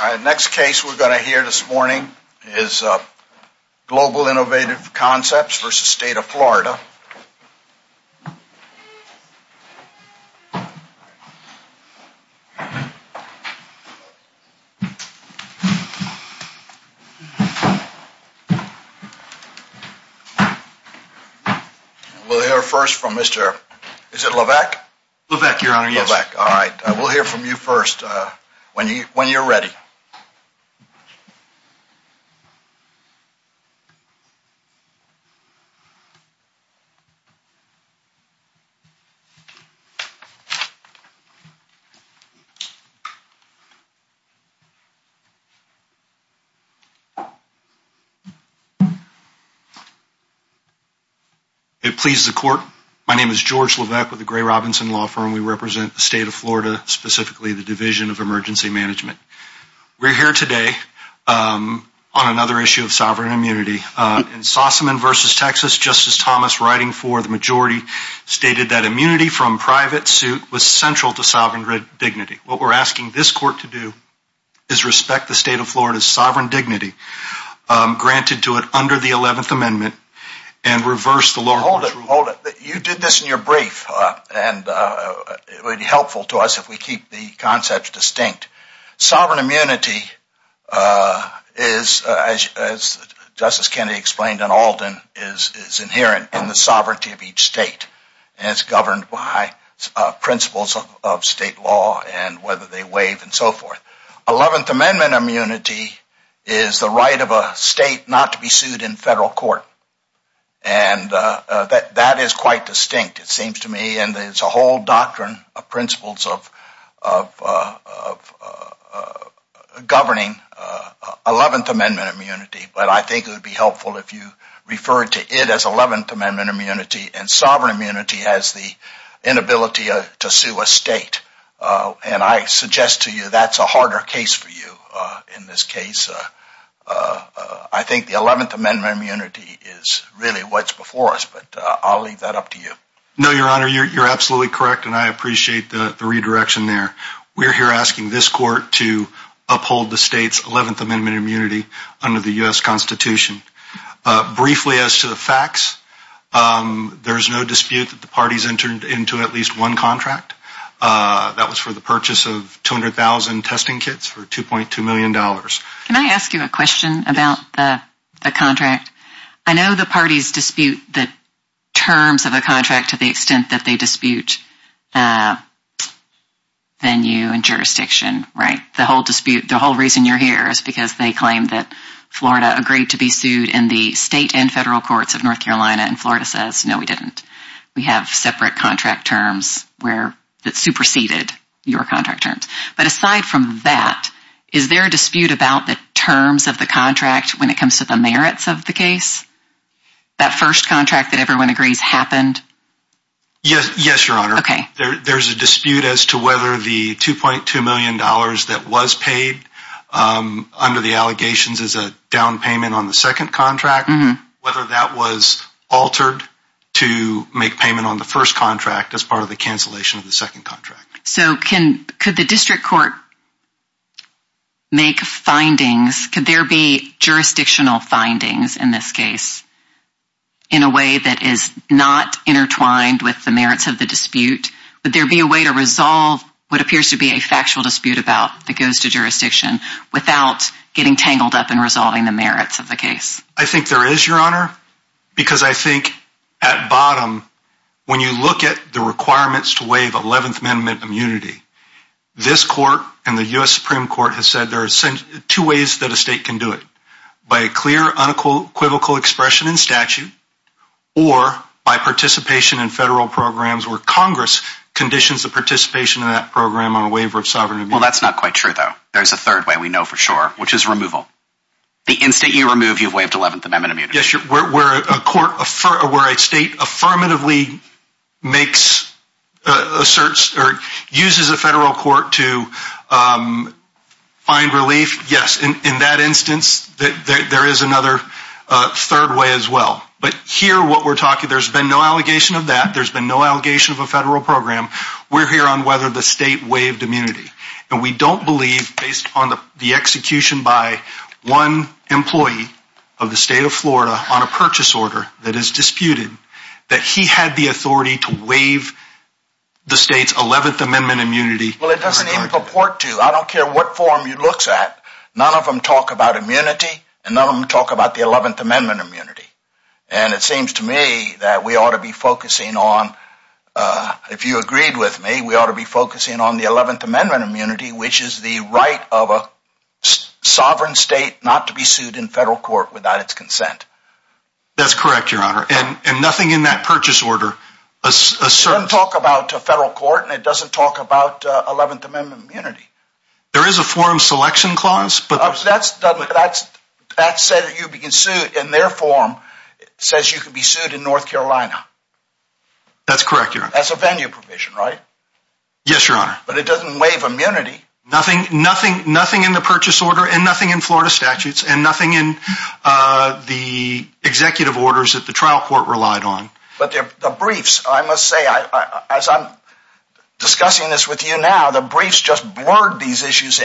The next case we're going to hear this morning is Global Innovative Concepts v. State of Florida. We'll hear first from Mr., is it Levesque? Levesque, Your Honor, yes. Levesque, all right. We'll hear from you first when you're ready. It pleases the court. My name is George Levesque with the Gray Robinson Law Firm. We represent the State of Florida, specifically the Division of Emergency Management. We're here today on another issue of sovereign immunity. In Sossaman v. Texas, Justice Thomas, writing for the majority, stated that immunity from private suit was central to sovereign dignity. What we're asking this court to do is respect the State of Florida's sovereign dignity, granted to it under the 11th Amendment, and reverse the lower court's rule. Hold it. You did this in your brief, and it would be helpful to us if we keep the concepts distinct. Sovereign immunity is, as Justice Kennedy explained in Alden, is inherent in the sovereignty of each state, and it's governed by principles of state law and whether they waive and so forth. Eleventh Amendment immunity is the right of a state not to be sued in federal court, and that is quite distinct, it seems to me, and there's a whole doctrine of principles of governing Eleventh Amendment immunity. But I think it would be helpful if you referred to it as Eleventh Amendment immunity, and sovereign immunity as the inability to sue a state. And I suggest to you that's a harder case for you in this case. I think the Eleventh Amendment immunity is really what's before us, but I'll leave that up to you. No, Your Honor, you're absolutely correct, and I appreciate the redirection there. We're here asking this court to uphold the state's Eleventh Amendment immunity under the U.S. Constitution. Briefly as to the facts, there is no dispute that the parties entered into at least one contract. That was for the purchase of 200,000 testing kits for $2.2 million. Can I ask you a question about the contract? I know the parties dispute the terms of a contract to the extent that they dispute venue and jurisdiction, right? The whole dispute, the whole reason you're here is because they claim that Florida agreed to be sued in the state and federal courts of North Carolina, and Florida says, no, we didn't. We have separate contract terms that superseded your contract terms. But aside from that, is there a dispute about the terms of the contract when it comes to the merits of the case? That first contract that everyone agrees happened? Yes, Your Honor. There's a dispute as to whether the $2.2 million that was paid under the allegations is a down payment on the second contract, whether that was altered to make payment on the first contract as part of the cancellation of the second contract. So could the district court make findings? Could there be jurisdictional findings in this case in a way that is not intertwined with the merits of the dispute? Would there be a way to resolve what appears to be a factual dispute about that goes to jurisdiction without getting tangled up in resolving the merits of the case? I think there is, Your Honor, because I think at bottom, when you look at the requirements to waive 11th Amendment immunity, this court and the U.S. Supreme Court has said there are two ways that a state can do it. By a clear unequivocal expression in statute or by participation in federal programs where Congress conditions the participation of that program on a waiver of sovereign immunity. Well, that's not quite true, though. There's a third way we know for sure, which is removal. The instant you remove, you've waived 11th Amendment immunity. Yes, where a state affirmatively makes asserts or uses a federal court to find relief, yes, in that instance, there is another third way as well. But here what we're talking, there's been no allegation of that. There's been no allegation of a federal program. We're here on whether the state waived immunity. And we don't believe, based on the execution by one employee of the state of Florida on a purchase order that is disputed, that he had the authority to waive the state's 11th Amendment immunity. Well, it doesn't even purport to. I don't care what form he looks at. None of them talk about immunity. And none of them talk about the 11th Amendment immunity. And it seems to me that we ought to be focusing on, if you agreed with me, we ought to be focusing on the 11th Amendment immunity, which is the right of a sovereign state not to be sued in federal court without its consent. That's correct, Your Honor. And nothing in that purchase order asserts. It doesn't talk about a federal court, and it doesn't talk about 11th Amendment immunity. There is a forum selection clause. That says you can be sued in their forum. It says you can be sued in North Carolina. That's correct, Your Honor. That's a venue provision, right? Yes, Your Honor. But it doesn't waive immunity. Nothing in the purchase order and nothing in Florida statutes and nothing in the executive orders that the trial court relied on. But the briefs, I must say, as I'm discussing this with you now, the briefs just blurred these issues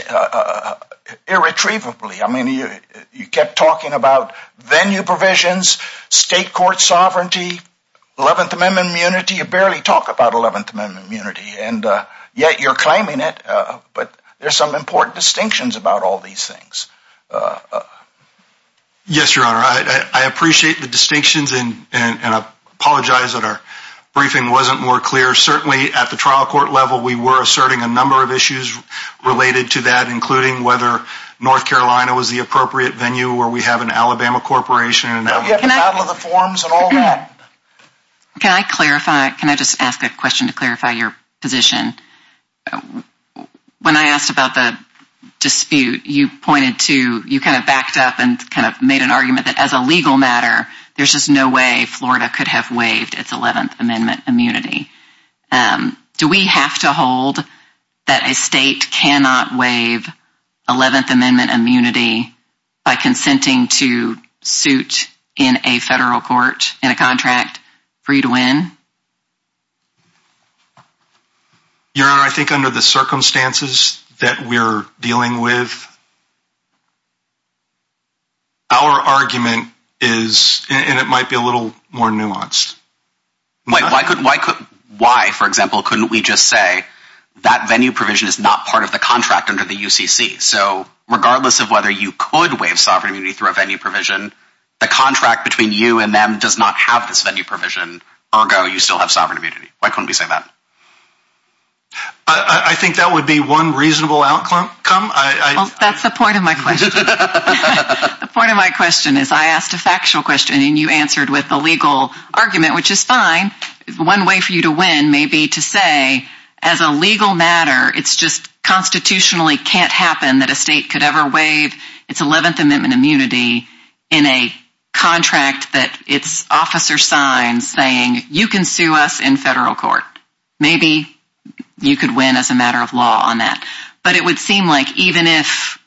irretrievably. I mean, you kept talking about venue provisions, state court sovereignty, 11th Amendment immunity. You barely talk about 11th Amendment immunity, and yet you're claiming it. But there's some important distinctions about all these things. Yes, Your Honor. I appreciate the distinctions, and I apologize that our briefing wasn't more clear. Certainly, at the trial court level, we were asserting a number of issues related to that, including whether North Carolina was the appropriate venue or we have an Alabama corporation. Can I clarify? Can I just ask a question to clarify your position? When I asked about the dispute, you pointed to, you kind of backed up and kind of made an argument that as a legal matter, there's just no way Florida could have waived its 11th Amendment immunity. Do we have to hold that a state cannot waive 11th Amendment immunity by consenting to suit in a federal court in a contract free to win? Your Honor, I think under the circumstances that we're dealing with, our argument is, and it might be a little more nuanced. Why, for example, couldn't we just say that venue provision is not part of the contract under the UCC? So regardless of whether you could waive sovereignty through a venue provision, the contract between you and them does not have this venue provision. Ergo, you still have sovereign immunity. Why couldn't we say that? I think that would be one reasonable outcome. That's the point of my question. The point of my question is I asked a factual question and you answered with a legal argument, which is fine. One way for you to win may be to say, as a legal matter, it's just constitutionally can't happen that a state could ever waive its 11th Amendment immunity in a contract that its officer signs saying you can sue us in federal court. Maybe you could win as a matter of law on that. But it would seem like even if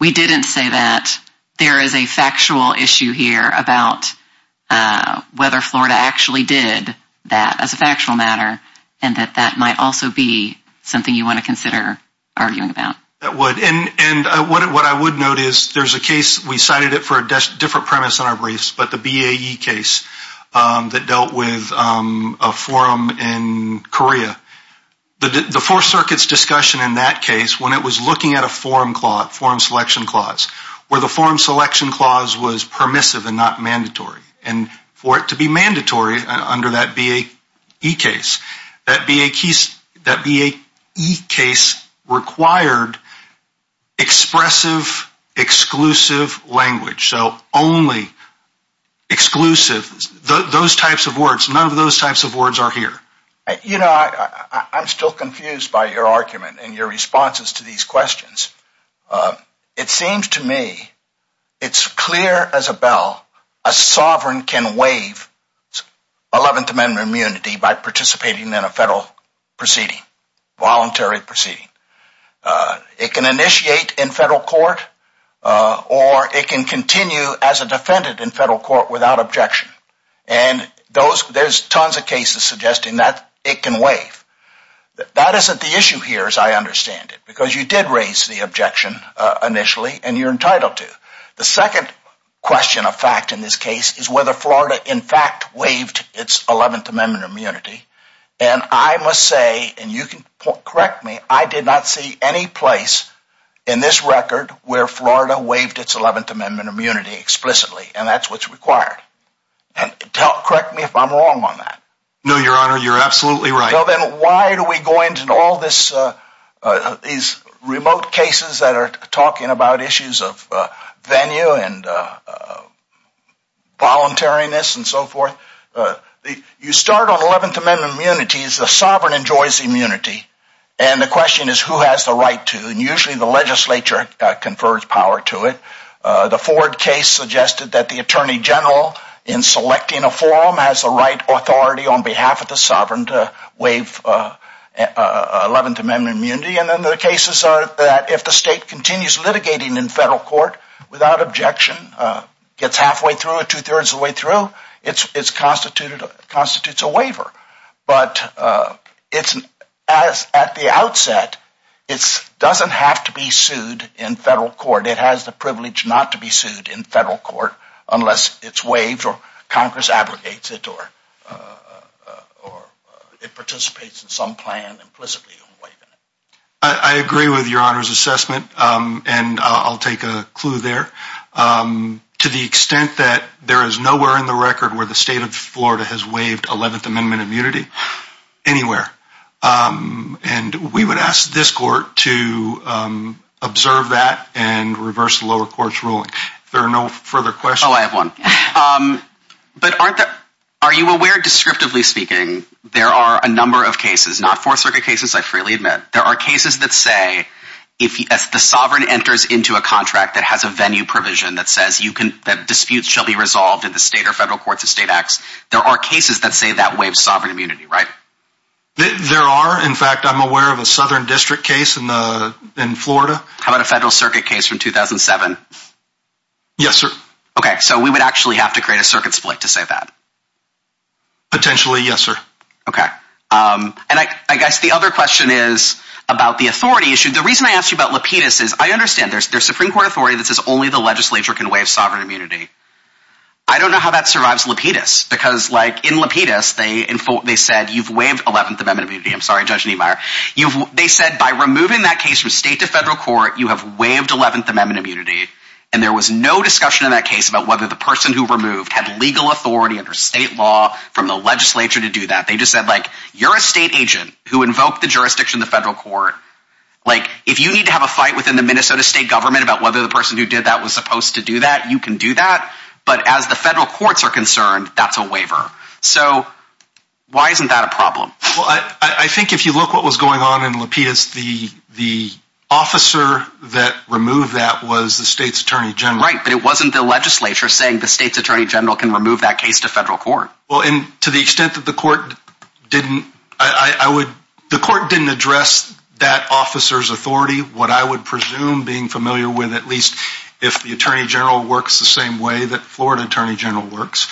we didn't say that, there is a factual issue here about whether Florida actually did that as a factual matter and that that might also be something you want to consider arguing about. That would. And what I would note is there's a case, we cited it for a different premise in our briefs, but the BAE case that dealt with a forum in Korea. The Fourth Circuit's discussion in that case, when it was looking at a forum clause, forum selection clause, where the forum selection clause was permissive and not mandatory, and for it to be mandatory under that BAE case. That BAE case required expressive, exclusive language. So only exclusive, those types of words. None of those types of words are here. You know, I'm still confused by your argument and your responses to these questions. It seems to me it's clear as a bell a sovereign can waive 11th Amendment immunity by participating in a federal proceeding, voluntary proceeding. It can initiate in federal court or it can continue as a defendant in federal court without objection. And there's tons of cases suggesting that it can waive. That isn't the issue here as I understand it. Because you did raise the objection initially and you're entitled to. The second question of fact in this case is whether Florida in fact waived its 11th Amendment immunity. And I must say, and you can correct me, I did not see any place in this record where Florida waived its 11th Amendment immunity explicitly. And that's what's required. Correct me if I'm wrong on that. No, Your Honor, you're absolutely right. Then why do we go into all these remote cases that are talking about issues of venue and voluntariness and so forth? You start on 11th Amendment immunities, the sovereign enjoys immunity. And the question is who has the right to. And usually the legislature confers power to it. The Ford case suggested that the Attorney General in selecting a forum has the right authority on behalf of the sovereign to waive 11th Amendment immunity. And then the cases are that if the state continues litigating in federal court without objection, gets halfway through or two-thirds of the way through, it constitutes a waiver. But at the outset, it doesn't have to be sued in federal court. It has the privilege not to be sued in federal court unless it's waived or Congress abrogates it or it participates in some plan implicitly in waiving it. I agree with Your Honor's assessment, and I'll take a clue there. To the extent that there is nowhere in the record where the state of Florida has waived 11th Amendment immunity anywhere. And we would ask this court to observe that and reverse the lower court's ruling. If there are no further questions. Oh, I have one. But aren't there, are you aware descriptively speaking, there are a number of cases, not Fourth Circuit cases, I freely admit. There are cases that say if the sovereign enters into a contract that has a venue provision that says that disputes shall be resolved in the state or federal courts of state acts, there are cases that say that waives sovereign immunity, right? There are, in fact, I'm aware of a southern district case in Florida. How about a federal circuit case from 2007? Yes, sir. Okay, so we would actually have to create a circuit split to say that. Potentially, yes, sir. Okay. And I guess the other question is about the authority issue. The reason I asked you about Lapidus is I understand there's Supreme Court authority that says only the legislature can waive sovereign immunity. I don't know how that survives Lapidus because like in Lapidus, they said you've waived Eleventh Amendment immunity. I'm sorry, Judge Niemeyer. They said by removing that case from state to federal court, you have waived Eleventh Amendment immunity. And there was no discussion in that case about whether the person who removed had legal authority under state law from the legislature to do that. They just said you're a state agent who invoked the jurisdiction of the federal court. If you need to have a fight within the Minnesota state government about whether the person who did that was supposed to do that, you can do that. But as the federal courts are concerned, that's a waiver. So why isn't that a problem? Well, I think if you look what was going on in Lapidus, the officer that removed that was the state's attorney general. Right, but it wasn't the legislature saying the state's attorney general can remove that case to federal court. Well, and to the extent that the court didn't, I would, the court didn't address that officer's authority, what I would presume being familiar with at least if the attorney general works the same way that Florida attorney general works,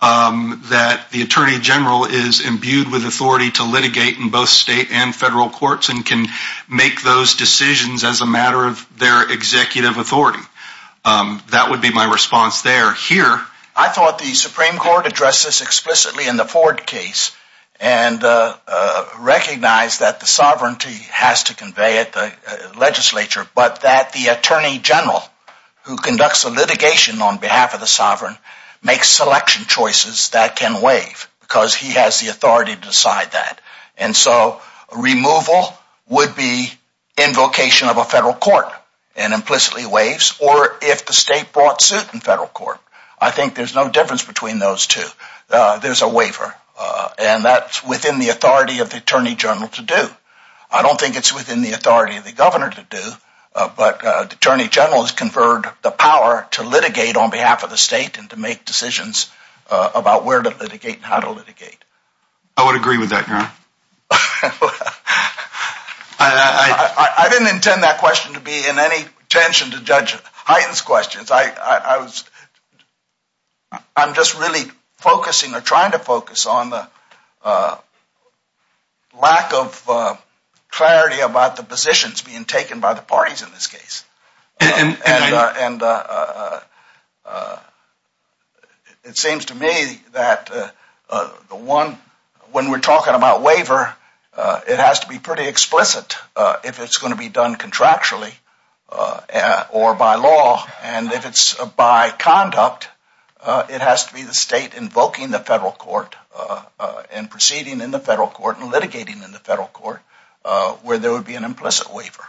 that the attorney general is imbued with authority to litigate in both state and federal courts and can make those decisions as a matter of their executive authority. That would be my response there. Here, I thought the Supreme Court addressed this explicitly in the Ford case and recognized that the sovereignty has to convey at the legislature, but that the attorney general who conducts the litigation on behalf of the sovereign makes selection choices that can waive because he has the authority to decide that. And so removal would be invocation of a federal court and implicitly waives, or if the state brought suit in federal court. I think there's no difference between those two. There's a waiver, and that's within the authority of the attorney general to do. I don't think it's within the authority of the governor to do, but the attorney general has conferred the power to litigate on behalf of the state and to make decisions about where to litigate and how to litigate. I would agree with that, Your Honor. I didn't intend that question to be in any tension to judge Hyden's questions. I'm just really focusing or trying to focus on the lack of clarity about the positions being taken by the parties in this case. And it seems to me that when we're talking about waiver, it has to be pretty explicit if it's going to be done contractually or by law. And if it's by conduct, it has to be the state invoking the federal court and proceeding in the federal court and litigating in the federal court where there would be an implicit waiver.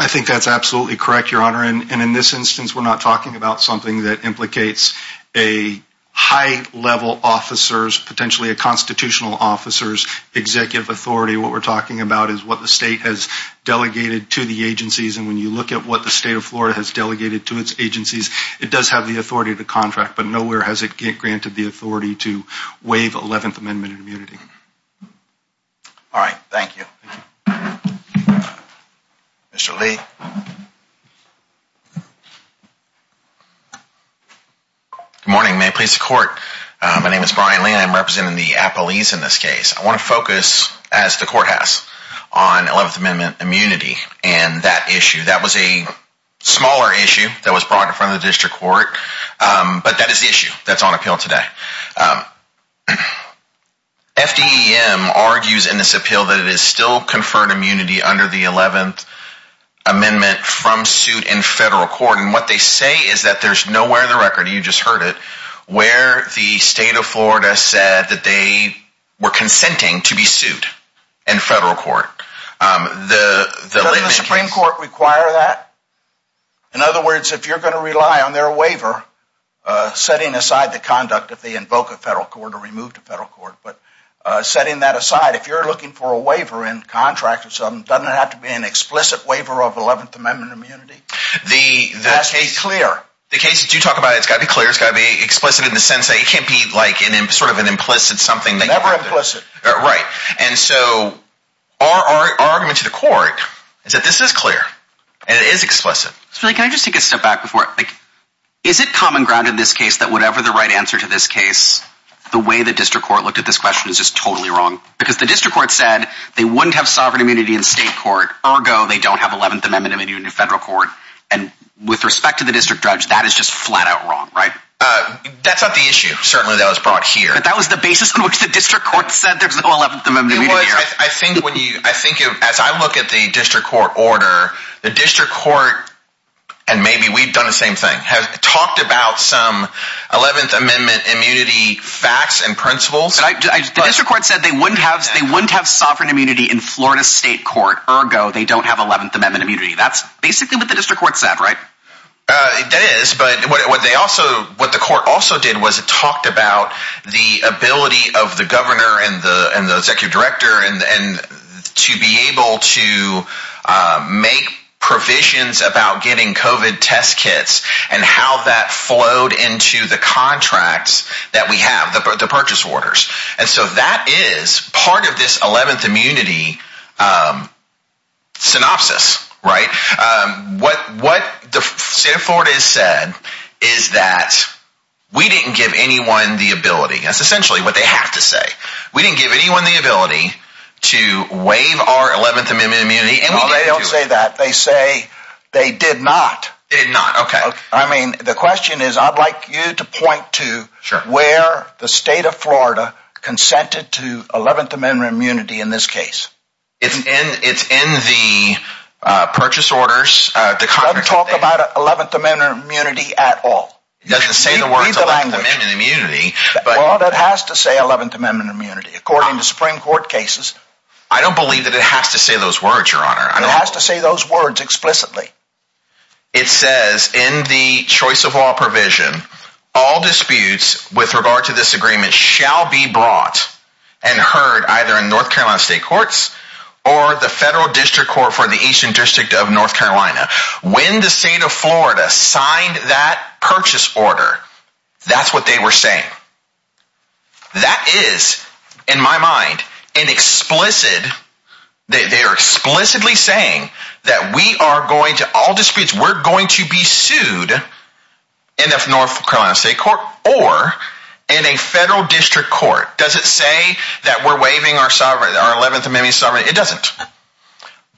I think that's absolutely correct, Your Honor. And in this instance, we're not talking about something that implicates a high-level officer, potentially a constitutional officer's executive authority. What we're talking about is what the state has delegated to the agencies. And when you look at what the state of Florida has delegated to its agencies, it does have the authority to contract. But nowhere has it granted the authority to waive 11th Amendment immunity. All right. Thank you. Mr. Lee. Good morning. May it please the Court. My name is Brian Lee and I'm representing the appellees in this case. I want to focus, as the Court has, on 11th Amendment immunity and that issue. That was a smaller issue that was brought in front of the district court, but that is the issue that's on appeal today. FDEM argues in this appeal that it is still conferred immunity under the 11th Amendment from suit in federal court. And what they say is that there's nowhere in the record, and you just heard it, where the state of Florida said that they were consenting to be sued in federal court. Does the Supreme Court require that? In other words, if you're going to rely on their waiver, setting aside the conduct if they invoke a federal court or remove the federal court, but setting that aside, if you're looking for a waiver in contract or something, doesn't it have to be an explicit waiver of 11th Amendment immunity? It has to be clear. The case that you talk about, it's got to be clear, it's got to be explicit in the sense that it can't be sort of an implicit something. Never implicit. And so our argument to the court is that this is clear and it is explicit. Can I just take a step back before? Is it common ground in this case that whatever the right answer to this case, the way the district court looked at this question is just totally wrong? Because the district court said they wouldn't have sovereign immunity in state court, ergo they don't have 11th Amendment immunity in federal court, and with respect to the district judge, that is just flat out wrong, right? That's not the issue, certainly, that was brought here. But that was the basis on which the district court said there's no 11th Amendment immunity. It was. I think as I look at the district court order, the district court, and maybe we've done the same thing, has talked about some 11th Amendment immunity facts and principles. The district court said they wouldn't have sovereign immunity in Florida state court, ergo they don't have 11th Amendment immunity. That's basically what the district court said, right? That is, but what the court also did was it talked about the ability of the governor and the executive director to be able to make provisions about getting COVID test kits and how that flowed into the contracts that we have, the purchase orders. And so that is part of this 11th immunity synopsis, right? What the state of Florida has said is that we didn't give anyone the ability. That's essentially what they have to say. We didn't give anyone the ability to waive our 11th Amendment immunity. No, they don't say that. They say they did not. Did not, okay. I mean, the question is, I'd like you to point to where the state of Florida consented to 11th Amendment immunity in this case. It's in the purchase orders. It doesn't talk about 11th Amendment immunity at all. It doesn't say the words 11th Amendment immunity. Well, that has to say 11th Amendment immunity, according to Supreme Court cases. I don't believe that it has to say those words, Your Honor. It has to say those words explicitly. It says in the choice of law provision, all disputes with regard to this agreement shall be brought and heard either in North Carolina State Courts or the Federal District Court for the Eastern District of North Carolina. When the state of Florida signed that purchase order, that's what they were saying. That is, in my mind, an explicit, they are explicitly saying that we are going to, all disputes, we're going to be sued in the North Carolina State Court or in a Federal District Court. Does it say that we're waiving our sovereignty, our 11th Amendment sovereignty? It doesn't.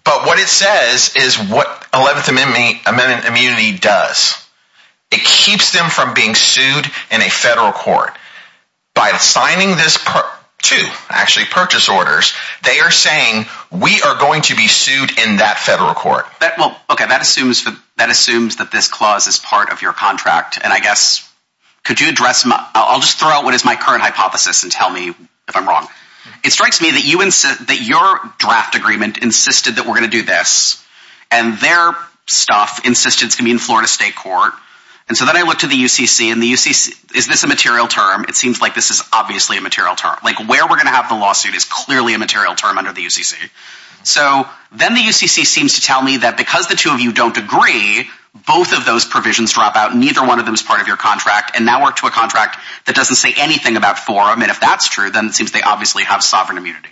But what it says is what 11th Amendment immunity does. It keeps them from being sued in a Federal Court. By signing this, two, actually, purchase orders, they are saying we are going to be sued in that Federal Court. Okay, that assumes that this clause is part of your contract, and I guess could you address, I'll just throw out what is my current hypothesis and tell me if I'm wrong. It strikes me that your draft agreement insisted that we're going to do this, and their stuff insisted it's going to be in Florida State Court. And so then I looked at the UCC, and the UCC, is this a material term? It seems like this is obviously a material term. Like where we're going to have the lawsuit is clearly a material term under the UCC. So then the UCC seems to tell me that because the two of you don't agree, both of those provisions drop out, neither one of them is part of your contract, and now we're to a contract that doesn't say anything about forum, and if that's true, then it seems they obviously have sovereign immunity.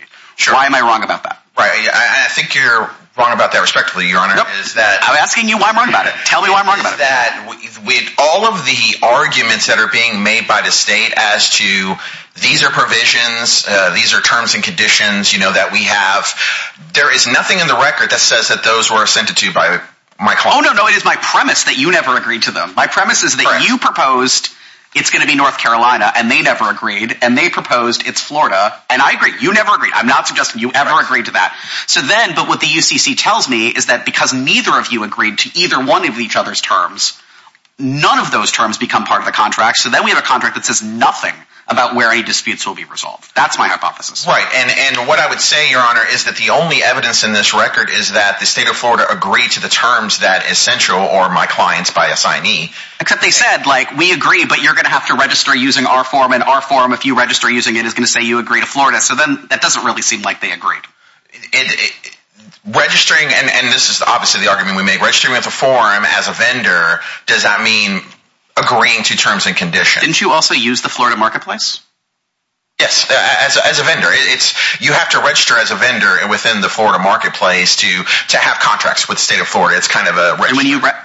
Why am I wrong about that? Right, and I think you're wrong about that respectively, Your Honor. I'm asking you why I'm wrong about it. Tell me why I'm wrong about it. With all of the arguments that are being made by the state as to these are provisions, these are terms and conditions that we have, there is nothing in the record that says that those were assented to by my client. Oh no, no, it is my premise that you never agreed to them. My premise is that you proposed it's going to be North Carolina, and they never agreed, and they proposed it's Florida, and I agree. You never agreed. I'm not suggesting you ever agreed to that. So then, but what the UCC tells me is that because neither of you agreed to either one of each other's terms, none of those terms become part of the contract, so then we have a contract that says nothing about where any disputes will be resolved. That's my hypothesis. Right, and what I would say, Your Honor, is that the only evidence in this record is that the state of Florida agreed to the terms that is central or my client's by assignee. Except they said, like, we agree, but you're going to have to register using our form, and our form, if you register using it, is going to say you agree to Florida, so then that doesn't really seem like they agreed. Registering, and this is obviously the argument we make, registering with a form as a vendor, does that mean agreeing to terms and conditions? Didn't you also use the Florida Marketplace? Yes, as a vendor. You have to register as a vendor within the Florida Marketplace to have contracts with the state of Florida. It's kind of a…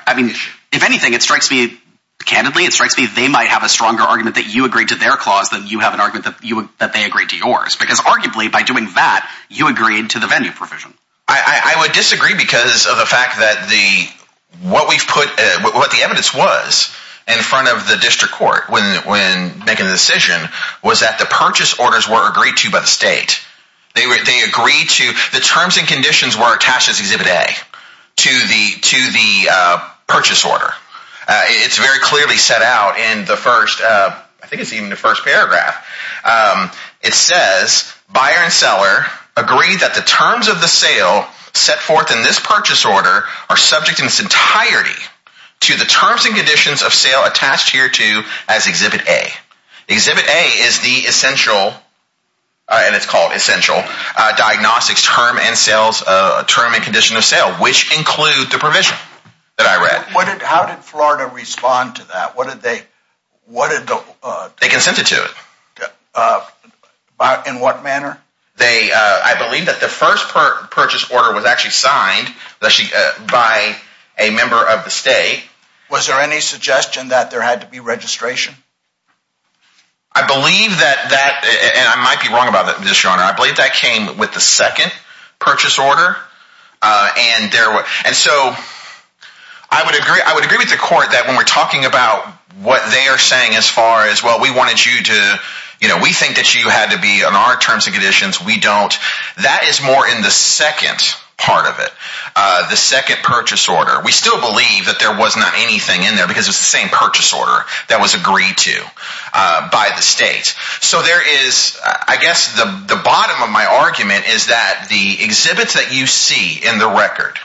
I mean, if anything, it strikes me, candidly, it strikes me they might have a stronger argument that you agreed to their clause than you have an argument that they agreed to yours, because arguably, by doing that, you agreed to the venue provision. I would disagree because of the fact that what the evidence was in front of the district court when making the decision was that the purchase orders were agreed to by the state. They agreed to…the terms and conditions were attached as Exhibit A to the purchase order. It's very clearly set out in the first…I think it's even the first paragraph. It says, buyer and seller agree that the terms of the sale set forth in this purchase order are subject in its entirety to the terms and conditions of sale attached here to as Exhibit A. Exhibit A is the essential, and it's called essential, diagnostics term and condition of sale, which include the provision that I read. How did Florida respond to that? What did they… They consented to it. In what manner? I believe that the first purchase order was actually signed by a member of the state. Was there any suggestion that there had to be registration? I believe that that…and I might be wrong about this, Your Honor. I believe that came with the second purchase order. And so I would agree with the court that when we're talking about what they are saying as far as, well, we wanted you to…we think that you had to be on our terms and conditions. We don't. That is more in the second part of it, the second purchase order. We still believe that there was not anything in there because it's the same purchase order that was agreed to by the state. So there is…I guess the bottom of my argument is that the exhibits that you see in the record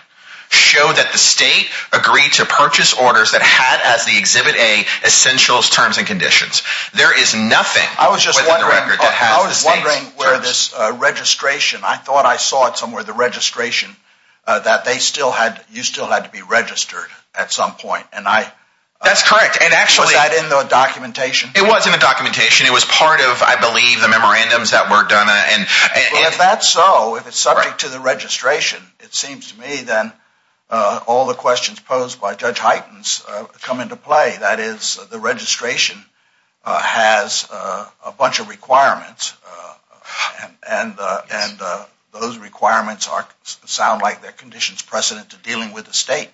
show that the state agreed to purchase orders that had as the exhibit A essential terms and conditions. There is nothing within the record that has the state's terms. I was just wondering where this registration…I thought I saw it somewhere, the registration, that they still had…you still had to be registered at some point. And I… That's correct. And actually… Was that in the documentation? It was in the documentation. It was part of, I believe, the memorandums that were done and… If that's so, if it's subject to the registration, it seems to me, then all the questions posed by Judge Heitens come into play. That is, the registration has a bunch of requirements, and those requirements sound like they're conditions precedent to dealing with the state.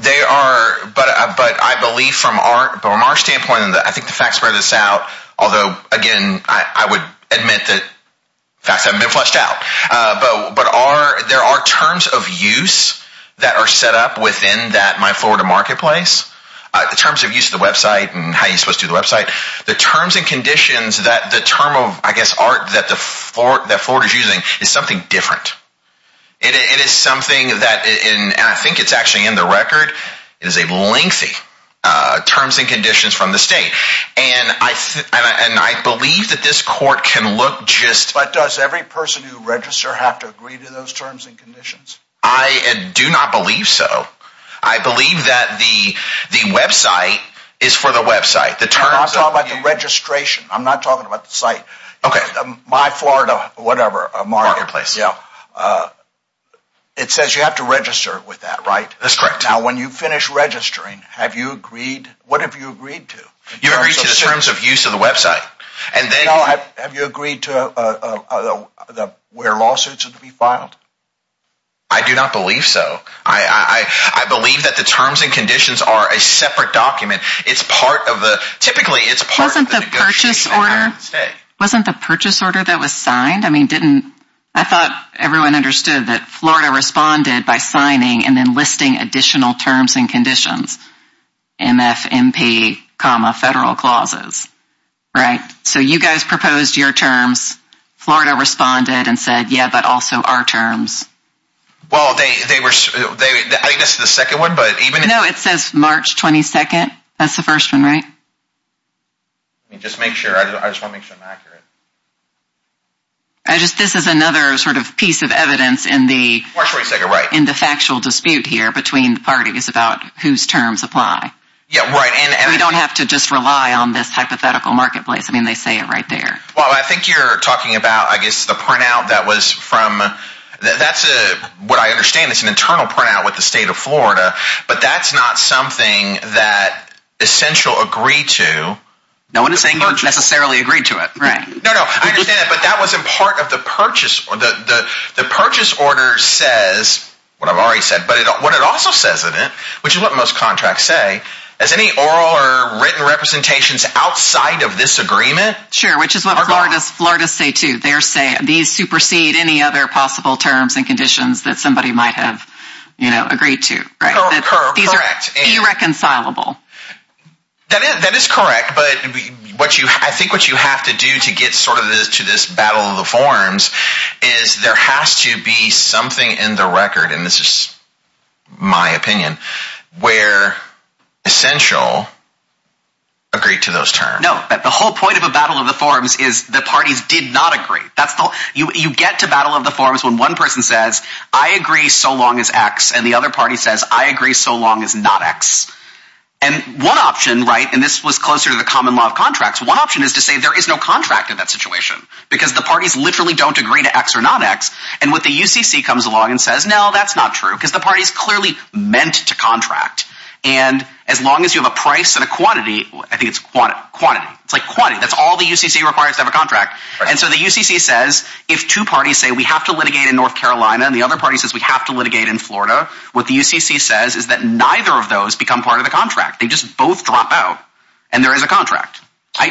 They are, but I believe from our standpoint, I think the facts bear this out, although, again, I would admit that facts haven't been fleshed out. But there are terms of use that are set up within that My Florida Marketplace, the terms of use of the website and how you're supposed to do the website. The terms and conditions that the term of, I guess, art that Florida is using is something different. It is something that, and I think it's actually in the record, it is a lengthy terms and conditions from the state. And I believe that this court can look just… But does every person who register have to agree to those terms and conditions? I do not believe so. I believe that the website is for the website. I'm not talking about the registration. I'm not talking about the site. Okay. My Florida, whatever, Marketplace. Marketplace. Yeah. It says you have to register with that, right? That's correct. Now, when you finish registering, have you agreed, what have you agreed to? You agreed to the terms of use of the website. And then… Now, have you agreed to where lawsuits are to be filed? I do not believe so. I believe that the terms and conditions are a separate document. It's part of the, typically it's part of the negotiation. Wasn't the purchase order that was signed? I mean, didn't, I thought everyone understood that Florida responded by signing and then listing additional terms and conditions. MFMP comma federal clauses, right? So, you guys proposed your terms. Florida responded and said, yeah, but also our terms. Well, they were, I think this is the second one, but even if… No, it says March 22nd. That's the first one, right? Just make sure. I just want to make sure I'm accurate. I just, this is another sort of piece of evidence in the… March 22nd, right. In the factual dispute here between the parties about whose terms apply. Yeah, right, and… We don't have to just rely on this hypothetical marketplace. I mean, they say it right there. Well, I think you're talking about, I guess, the printout that was from, that's what I understand is an internal printout with the state of Florida, but that's not something that Essential agreed to. No one is saying you necessarily agreed to it, right? No, no, I understand that, but that wasn't part of the purchase. The purchase order says what I've already said, but what it also says in it, which is what most contracts say, is any oral or written representations outside of this agreement… Sure, which is what Florida's say too. They're saying these supersede any other possible terms and conditions that somebody might have agreed to, right? Correct. These are irreconcilable. That is correct, but I think what you have to do to get sort of to this battle of the forms is there has to be something in the record, and this is my opinion, where Essential agreed to those terms. No, the whole point of a battle of the forms is the parties did not agree. You get to battle of the forms when one person says, I agree so long as X, and the other party says, I agree so long as not X. And one option, right, and this was closer to the common law of contracts, one option is to say there is no contract in that situation, because the parties literally don't agree to X or not X, and what the UCC comes along and says, no, that's not true, because the parties clearly meant to contract, and as long as you have a price and a quantity, I think it's quantity, it's like quantity, that's all the UCC requires to have a contract, and so the UCC says if two parties say we have to litigate in North Carolina and the other party says we have to litigate in Florida, what the UCC says is that neither of those become part of the contract. They just both drop out, and there is a contract.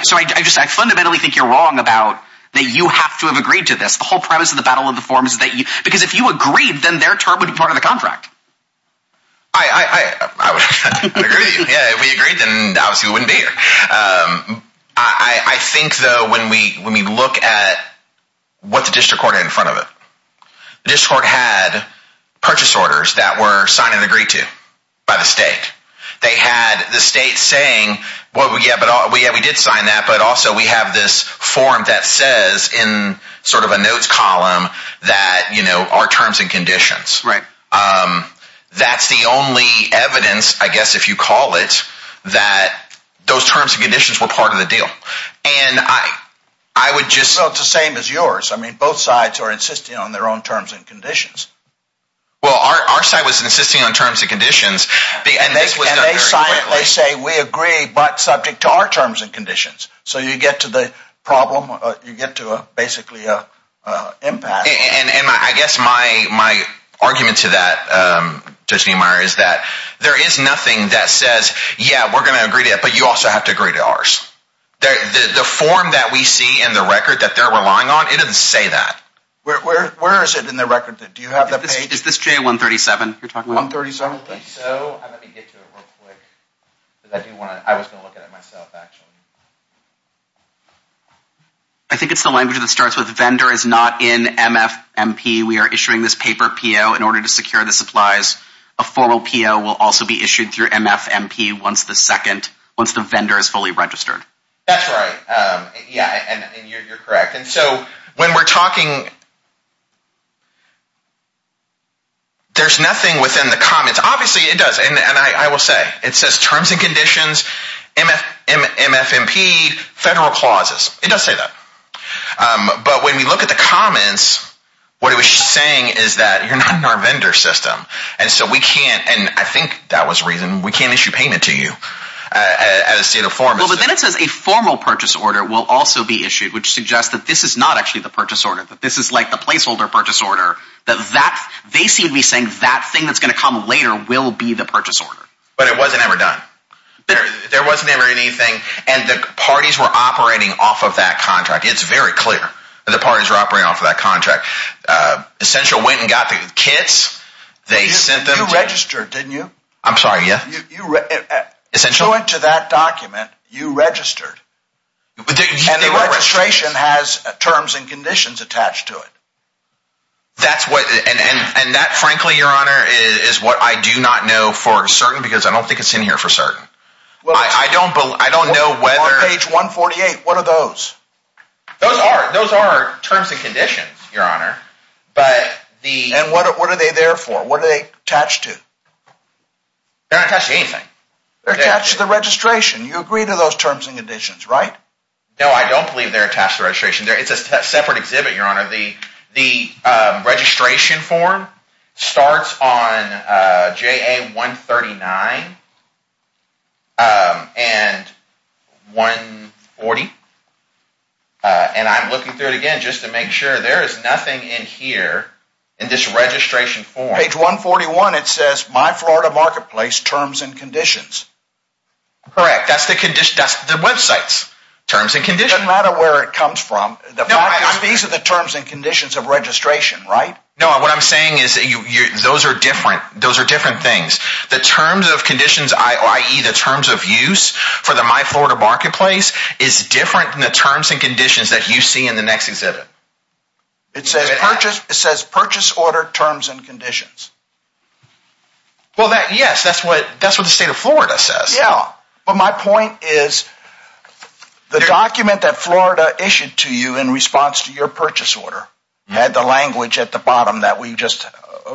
So I fundamentally think you're wrong about that you have to have agreed to this. The whole premise of the Battle of the Forms is that you, because if you agreed, then their term would be part of the contract. I agree, yeah, if we agreed, then obviously we wouldn't be here. I think, though, when we look at what the district court had in front of it, the district court had purchase orders that were signed and agreed to by the state. They had the state saying, yeah, we did sign that, but also we have this form that says in sort of a notes column that our terms and conditions. Right. That's the only evidence, I guess if you call it, that those terms and conditions were part of the deal, and I would just… Well, it's the same as yours. I mean, both sides are insisting on their own terms and conditions. Well, our side was insisting on terms and conditions, and this was done very quickly. And they say, we agree, but subject to our terms and conditions. So you get to the problem, you get to basically an impact. And I guess my argument to that, Judge Neumeier, is that there is nothing that says, yeah, we're going to agree to that, but you also have to agree to ours. The form that we see in the record that they're relying on, it doesn't say that. Where is it in the record? Do you have the page? Is this J137 you're talking about? J137? I think so. Let me get to it real quick. I was going to look at it myself, actually. I think it's the language that starts with, vendor is not in MFMP. We are issuing this paper PO in order to secure the supplies. A formal PO will also be issued through MFMP once the vendor is fully registered. That's right. Yeah, and you're correct. And so when we're talking, there's nothing within the comments. Obviously it does, and I will say, it says terms and conditions, MFMP, federal clauses. It does say that. But when we look at the comments, what it was saying is that you're not in our vendor system. And so we can't, and I think that was the reason, we can't issue payment to you as a state of form. Well, but then it says a formal purchase order will also be issued, which suggests that this is not actually the purchase order. This is like the placeholder purchase order. They seem to be saying that thing that's going to come later will be the purchase order. But it wasn't ever done. There was never anything, and the parties were operating off of that contract. It's very clear that the parties were operating off of that contract. Essential went and got the kits. You registered, didn't you? I'm sorry, yeah. To that document, you registered. And the registration has terms and conditions attached to it. And that, frankly, your honor, is what I do not know for certain, because I don't think it's in here for certain. I don't know whether... On page 148, what are those? Those are terms and conditions, your honor. And what are they there for? What are they attached to? They're not attached to anything. They're attached to the registration. You agree to those terms and conditions, right? No, I don't believe they're attached to the registration. It's a separate exhibit, your honor. The registration form starts on JA 139 and 140. And I'm looking through it again just to make sure there is nothing in here in this registration form. On page 141, it says, My Florida Marketplace, Terms and Conditions. Correct. That's the website's terms and conditions. It doesn't matter where it comes from. These are the terms and conditions of registration, right? No, what I'm saying is those are different things. The terms of conditions, i.e., the terms of use for the My Florida Marketplace, is different than the terms and conditions that you see in the next exhibit. It says, Purchase Order, Terms and Conditions. Well, yes, that's what the state of Florida says. Yeah, but my point is the document that Florida issued to you in response to your purchase order had the language at the bottom that we just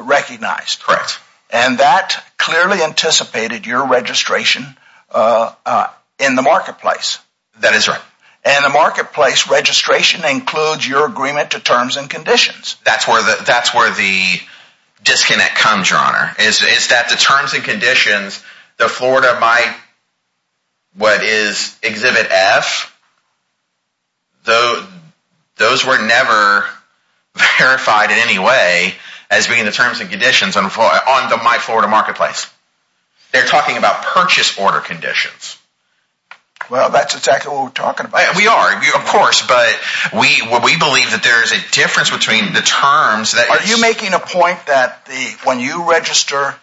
recognized. Correct. And that clearly anticipated your registration in the marketplace. That is right. And the marketplace registration includes your agreement to terms and conditions. That's where the disconnect comes, Your Honor, is that the terms and conditions, the Florida My, what is exhibit F, those were never verified in any way as being the terms and conditions on the My Florida Marketplace. They're talking about purchase order conditions. Well, that's exactly what we're talking about. We are, of course, but we believe that there is a difference between the terms that… Are you making a point that when you register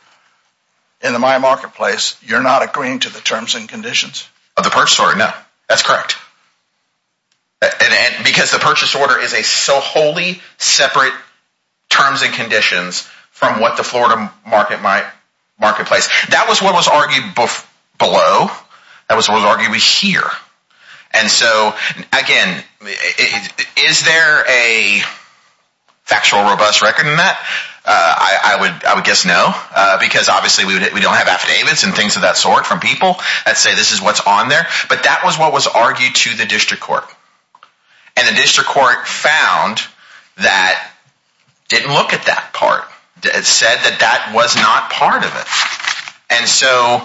in the My Marketplace, you're not agreeing to the terms and conditions? Of the purchase order, no. That's correct. Because the purchase order is a solely separate terms and conditions from what the Florida Marketplace. That was what was argued below. That was what was argued here. And so, again, is there a factual robust record in that? I would guess no, because obviously we don't have affidavits and things of that sort from people that say this is what's on there. But that was what was argued to the district court. And the district court found that didn't look at that part. It said that that was not part of it. And so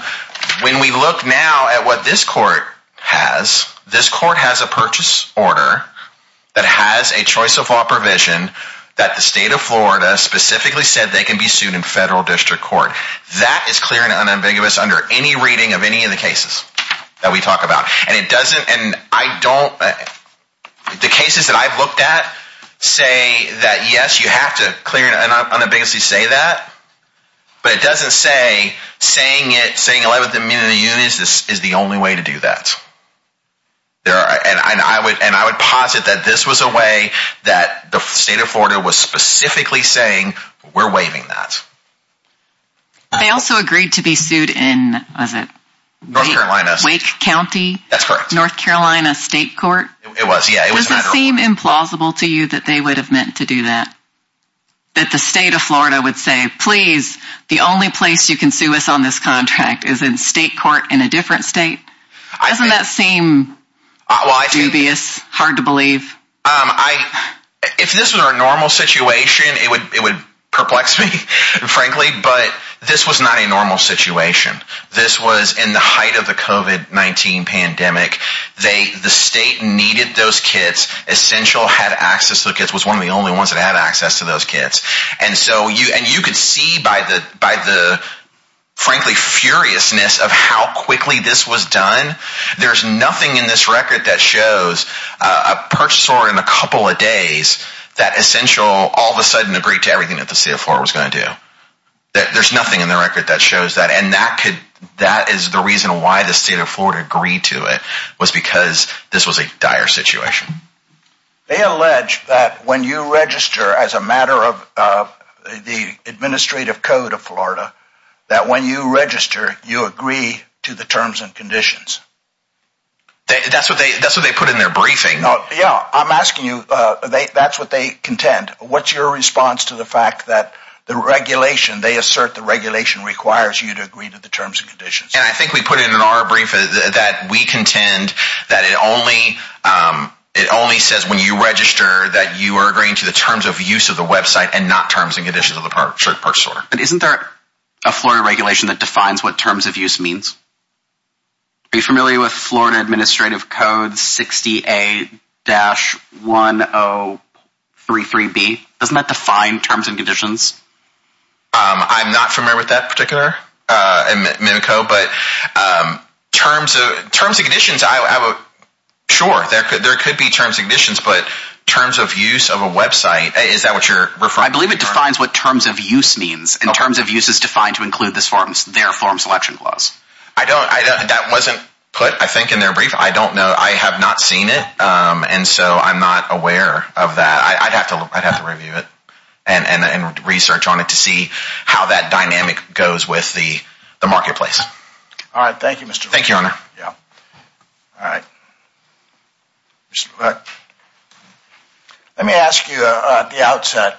when we look now at what this court has, this court has a purchase order that has a choice of law provision that the state of Florida specifically said they can be sued in federal district court. That is clear and unambiguous under any reading of any of the cases that we talk about. And it doesn't – and I don't – the cases that I've looked at say that, yes, you have to clear and unambiguously say that. But it doesn't say saying it, saying 11th Amendment of the Union is the only way to do that. And I would posit that this was a way that the state of Florida was specifically saying we're waiving that. They also agreed to be sued in – was it? North Carolina. Wake County? That's correct. North Carolina State Court? It was, yeah. Does it seem implausible to you that they would have meant to do that? That the state of Florida would say, please, the only place you can sue us on this contract is in state court in a different state? Doesn't that seem dubious, hard to believe? If this were a normal situation, it would perplex me, frankly. But this was not a normal situation. This was in the height of the COVID-19 pandemic. The state needed those kits. Essential had access to the kits, was one of the only ones that had access to those kits. And you could see by the, frankly, furiousness of how quickly this was done. There's nothing in this record that shows a purchaser in a couple of days that Essential all of a sudden agreed to everything that the state of Florida was going to do. There's nothing in the record that shows that. And that is the reason why the state of Florida agreed to it, was because this was a dire situation. They allege that when you register as a matter of the administrative code of Florida, that when you register, you agree to the terms and conditions. That's what they put in their briefing. Yeah, I'm asking you, that's what they contend. What's your response to the fact that the regulation, they assert the regulation requires you to agree to the terms and conditions? And I think we put it in our brief that we contend that it only says when you register that you are agreeing to the terms of use of the website and not terms and conditions of the purchaser. But isn't there a Florida regulation that defines what terms of use means? Are you familiar with Florida Administrative Code 60A-1033B? I'm not familiar with that particular code, but terms and conditions, sure, there could be terms and conditions, but terms of use of a website, is that what you're referring to? I believe it defines what terms of use means, and terms of use is defined to include their form selection clause. That wasn't put, I think, in their brief. I don't know. I have not seen it. And so I'm not aware of that. I'd have to review it and research on it to see how that dynamic goes with the marketplace. All right. Thank you, Mr. Thank you, Your Honor. Yeah. All right. Let me ask you at the outset.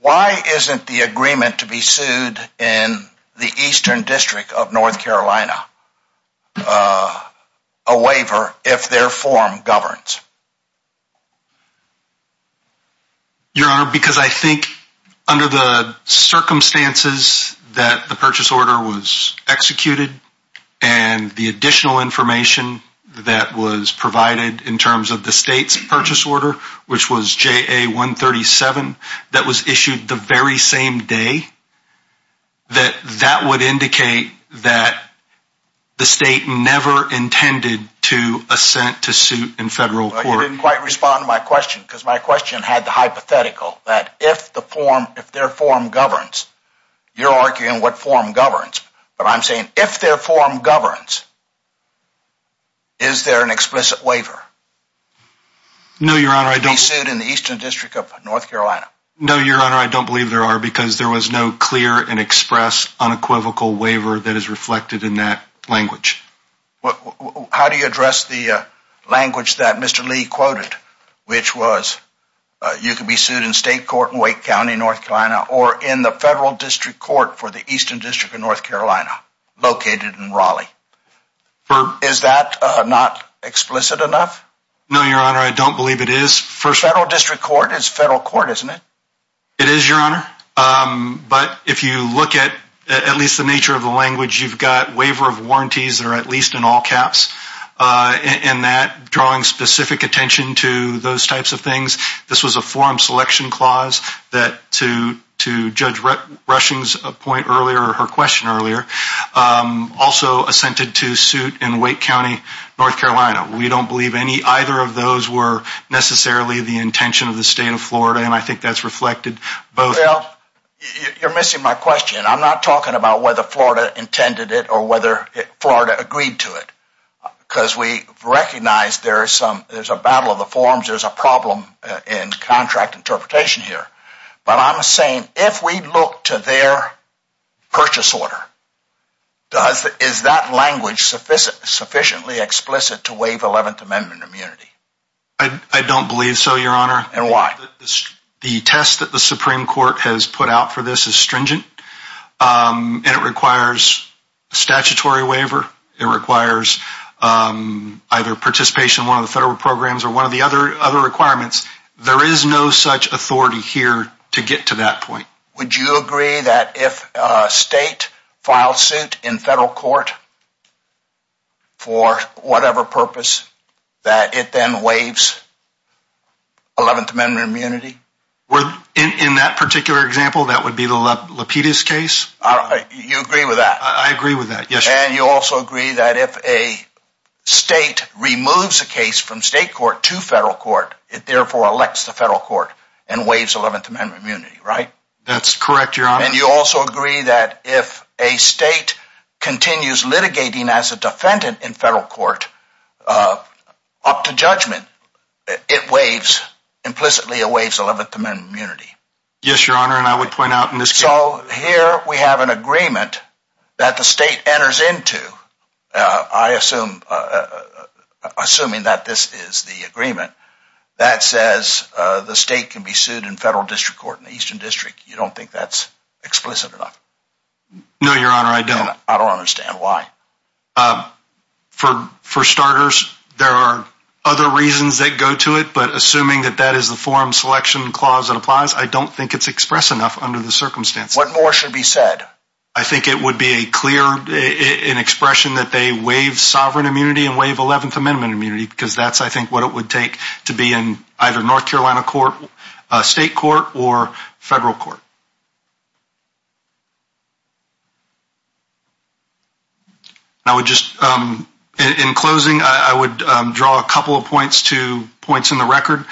Why isn't the agreement to be sued in the Eastern District of North Carolina a waiver if their form governs? Your Honor, because I think under the circumstances that the purchase order was executed and the additional information that was provided in terms of the state's purchase order, which was JA-137, that was issued the very same day, that that would indicate that the state never intended to assent to suit in federal court. Well, you didn't quite respond to my question, because my question had the hypothetical that if their form governs, you're arguing what form governs. But I'm saying if their form governs, is there an explicit waiver to be sued in the Eastern District of North Carolina? No, Your Honor, I don't believe there are, because there was no clear and expressed unequivocal waiver that is reflected in that language. How do you address the language that Mr. Lee quoted, which was you could be sued in state court in Wake County, North Carolina, or in the federal district court for the Eastern District of North Carolina, located in Raleigh? Is that not explicit enough? No, Your Honor, I don't believe it is. Federal district court is federal court, isn't it? It is, Your Honor. But if you look at at least the nature of the language, you've got waiver of warranties that are at least in all caps, and that drawing specific attention to those types of things. This was a form selection clause that, to Judge Rushing's point earlier, or her question earlier, also assented to suit in Wake County, North Carolina. We don't believe any, either of those were necessarily the intention of the state of Florida, and I think that's reflected both. Well, you're missing my question. I'm not talking about whether Florida intended it or whether Florida agreed to it, because we recognize there's a battle of the forms, there's a problem in contract interpretation here. But I'm saying if we look to their purchase order, is that language sufficiently explicit to waive Eleventh Amendment immunity? I don't believe so, Your Honor. And why? The test that the Supreme Court has put out for this is stringent, and it requires a statutory waiver. It requires either participation in one of the federal programs or one of the other requirements. There is no such authority here to get to that point. Would you agree that if a state filed suit in federal court for whatever purpose, that it then waives Eleventh Amendment immunity? In that particular example, that would be the Lapidus case? You agree with that? I agree with that, yes. And you also agree that if a state removes a case from state court to federal court, it therefore elects the federal court and waives Eleventh Amendment immunity, right? That's correct, Your Honor. And you also agree that if a state continues litigating as a defendant in federal court up to judgment, it waives, implicitly it waives Eleventh Amendment immunity? Yes, Your Honor, and I would point out in this case... You don't think that's explicit enough? No, Your Honor, I don't. I don't understand why. For starters, there are other reasons that go to it, but assuming that that is the forum selection clause that applies, I don't think it's expressed enough under the circumstances. What more should be said? I think it would be a clear expression that they waive sovereign immunity and waive Eleventh Amendment immunity, because that's, I think, what it would take to be in either North Carolina court, state court, or federal court. I would just, in closing, I would draw a couple of points to points in the record.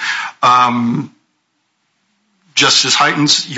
Justice Hytens,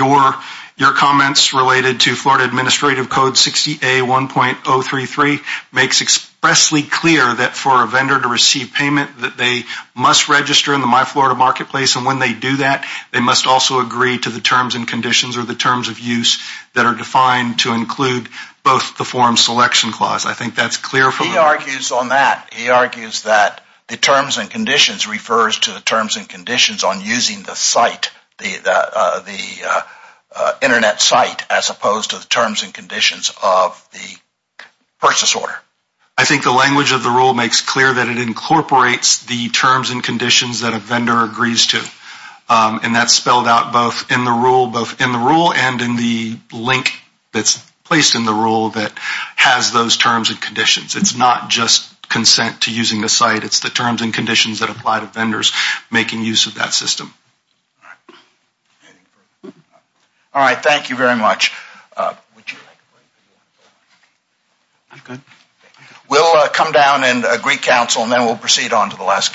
your comments related to Florida Administrative Code 60A1.033 makes expressly clear that for a vendor to receive payment, that they must register in the My Florida Marketplace, and when they do that, they must also agree to the terms and conditions or the terms of use that are defined to include both the forum selection clause. I think that's clear from... He argues on that. He argues that the terms and conditions refers to the terms and conditions on using the site, the Internet site, as opposed to the terms and conditions of the purchase order. I think the language of the rule makes clear that it incorporates the terms and conditions that a vendor agrees to. And that's spelled out both in the rule and in the link that's placed in the rule that has those terms and conditions. It's not just consent to using the site. It's the terms and conditions that apply to vendors making use of that system. All right. Thank you very much. I'm good. We'll come down and agree counsel, and then we'll proceed on to the last case.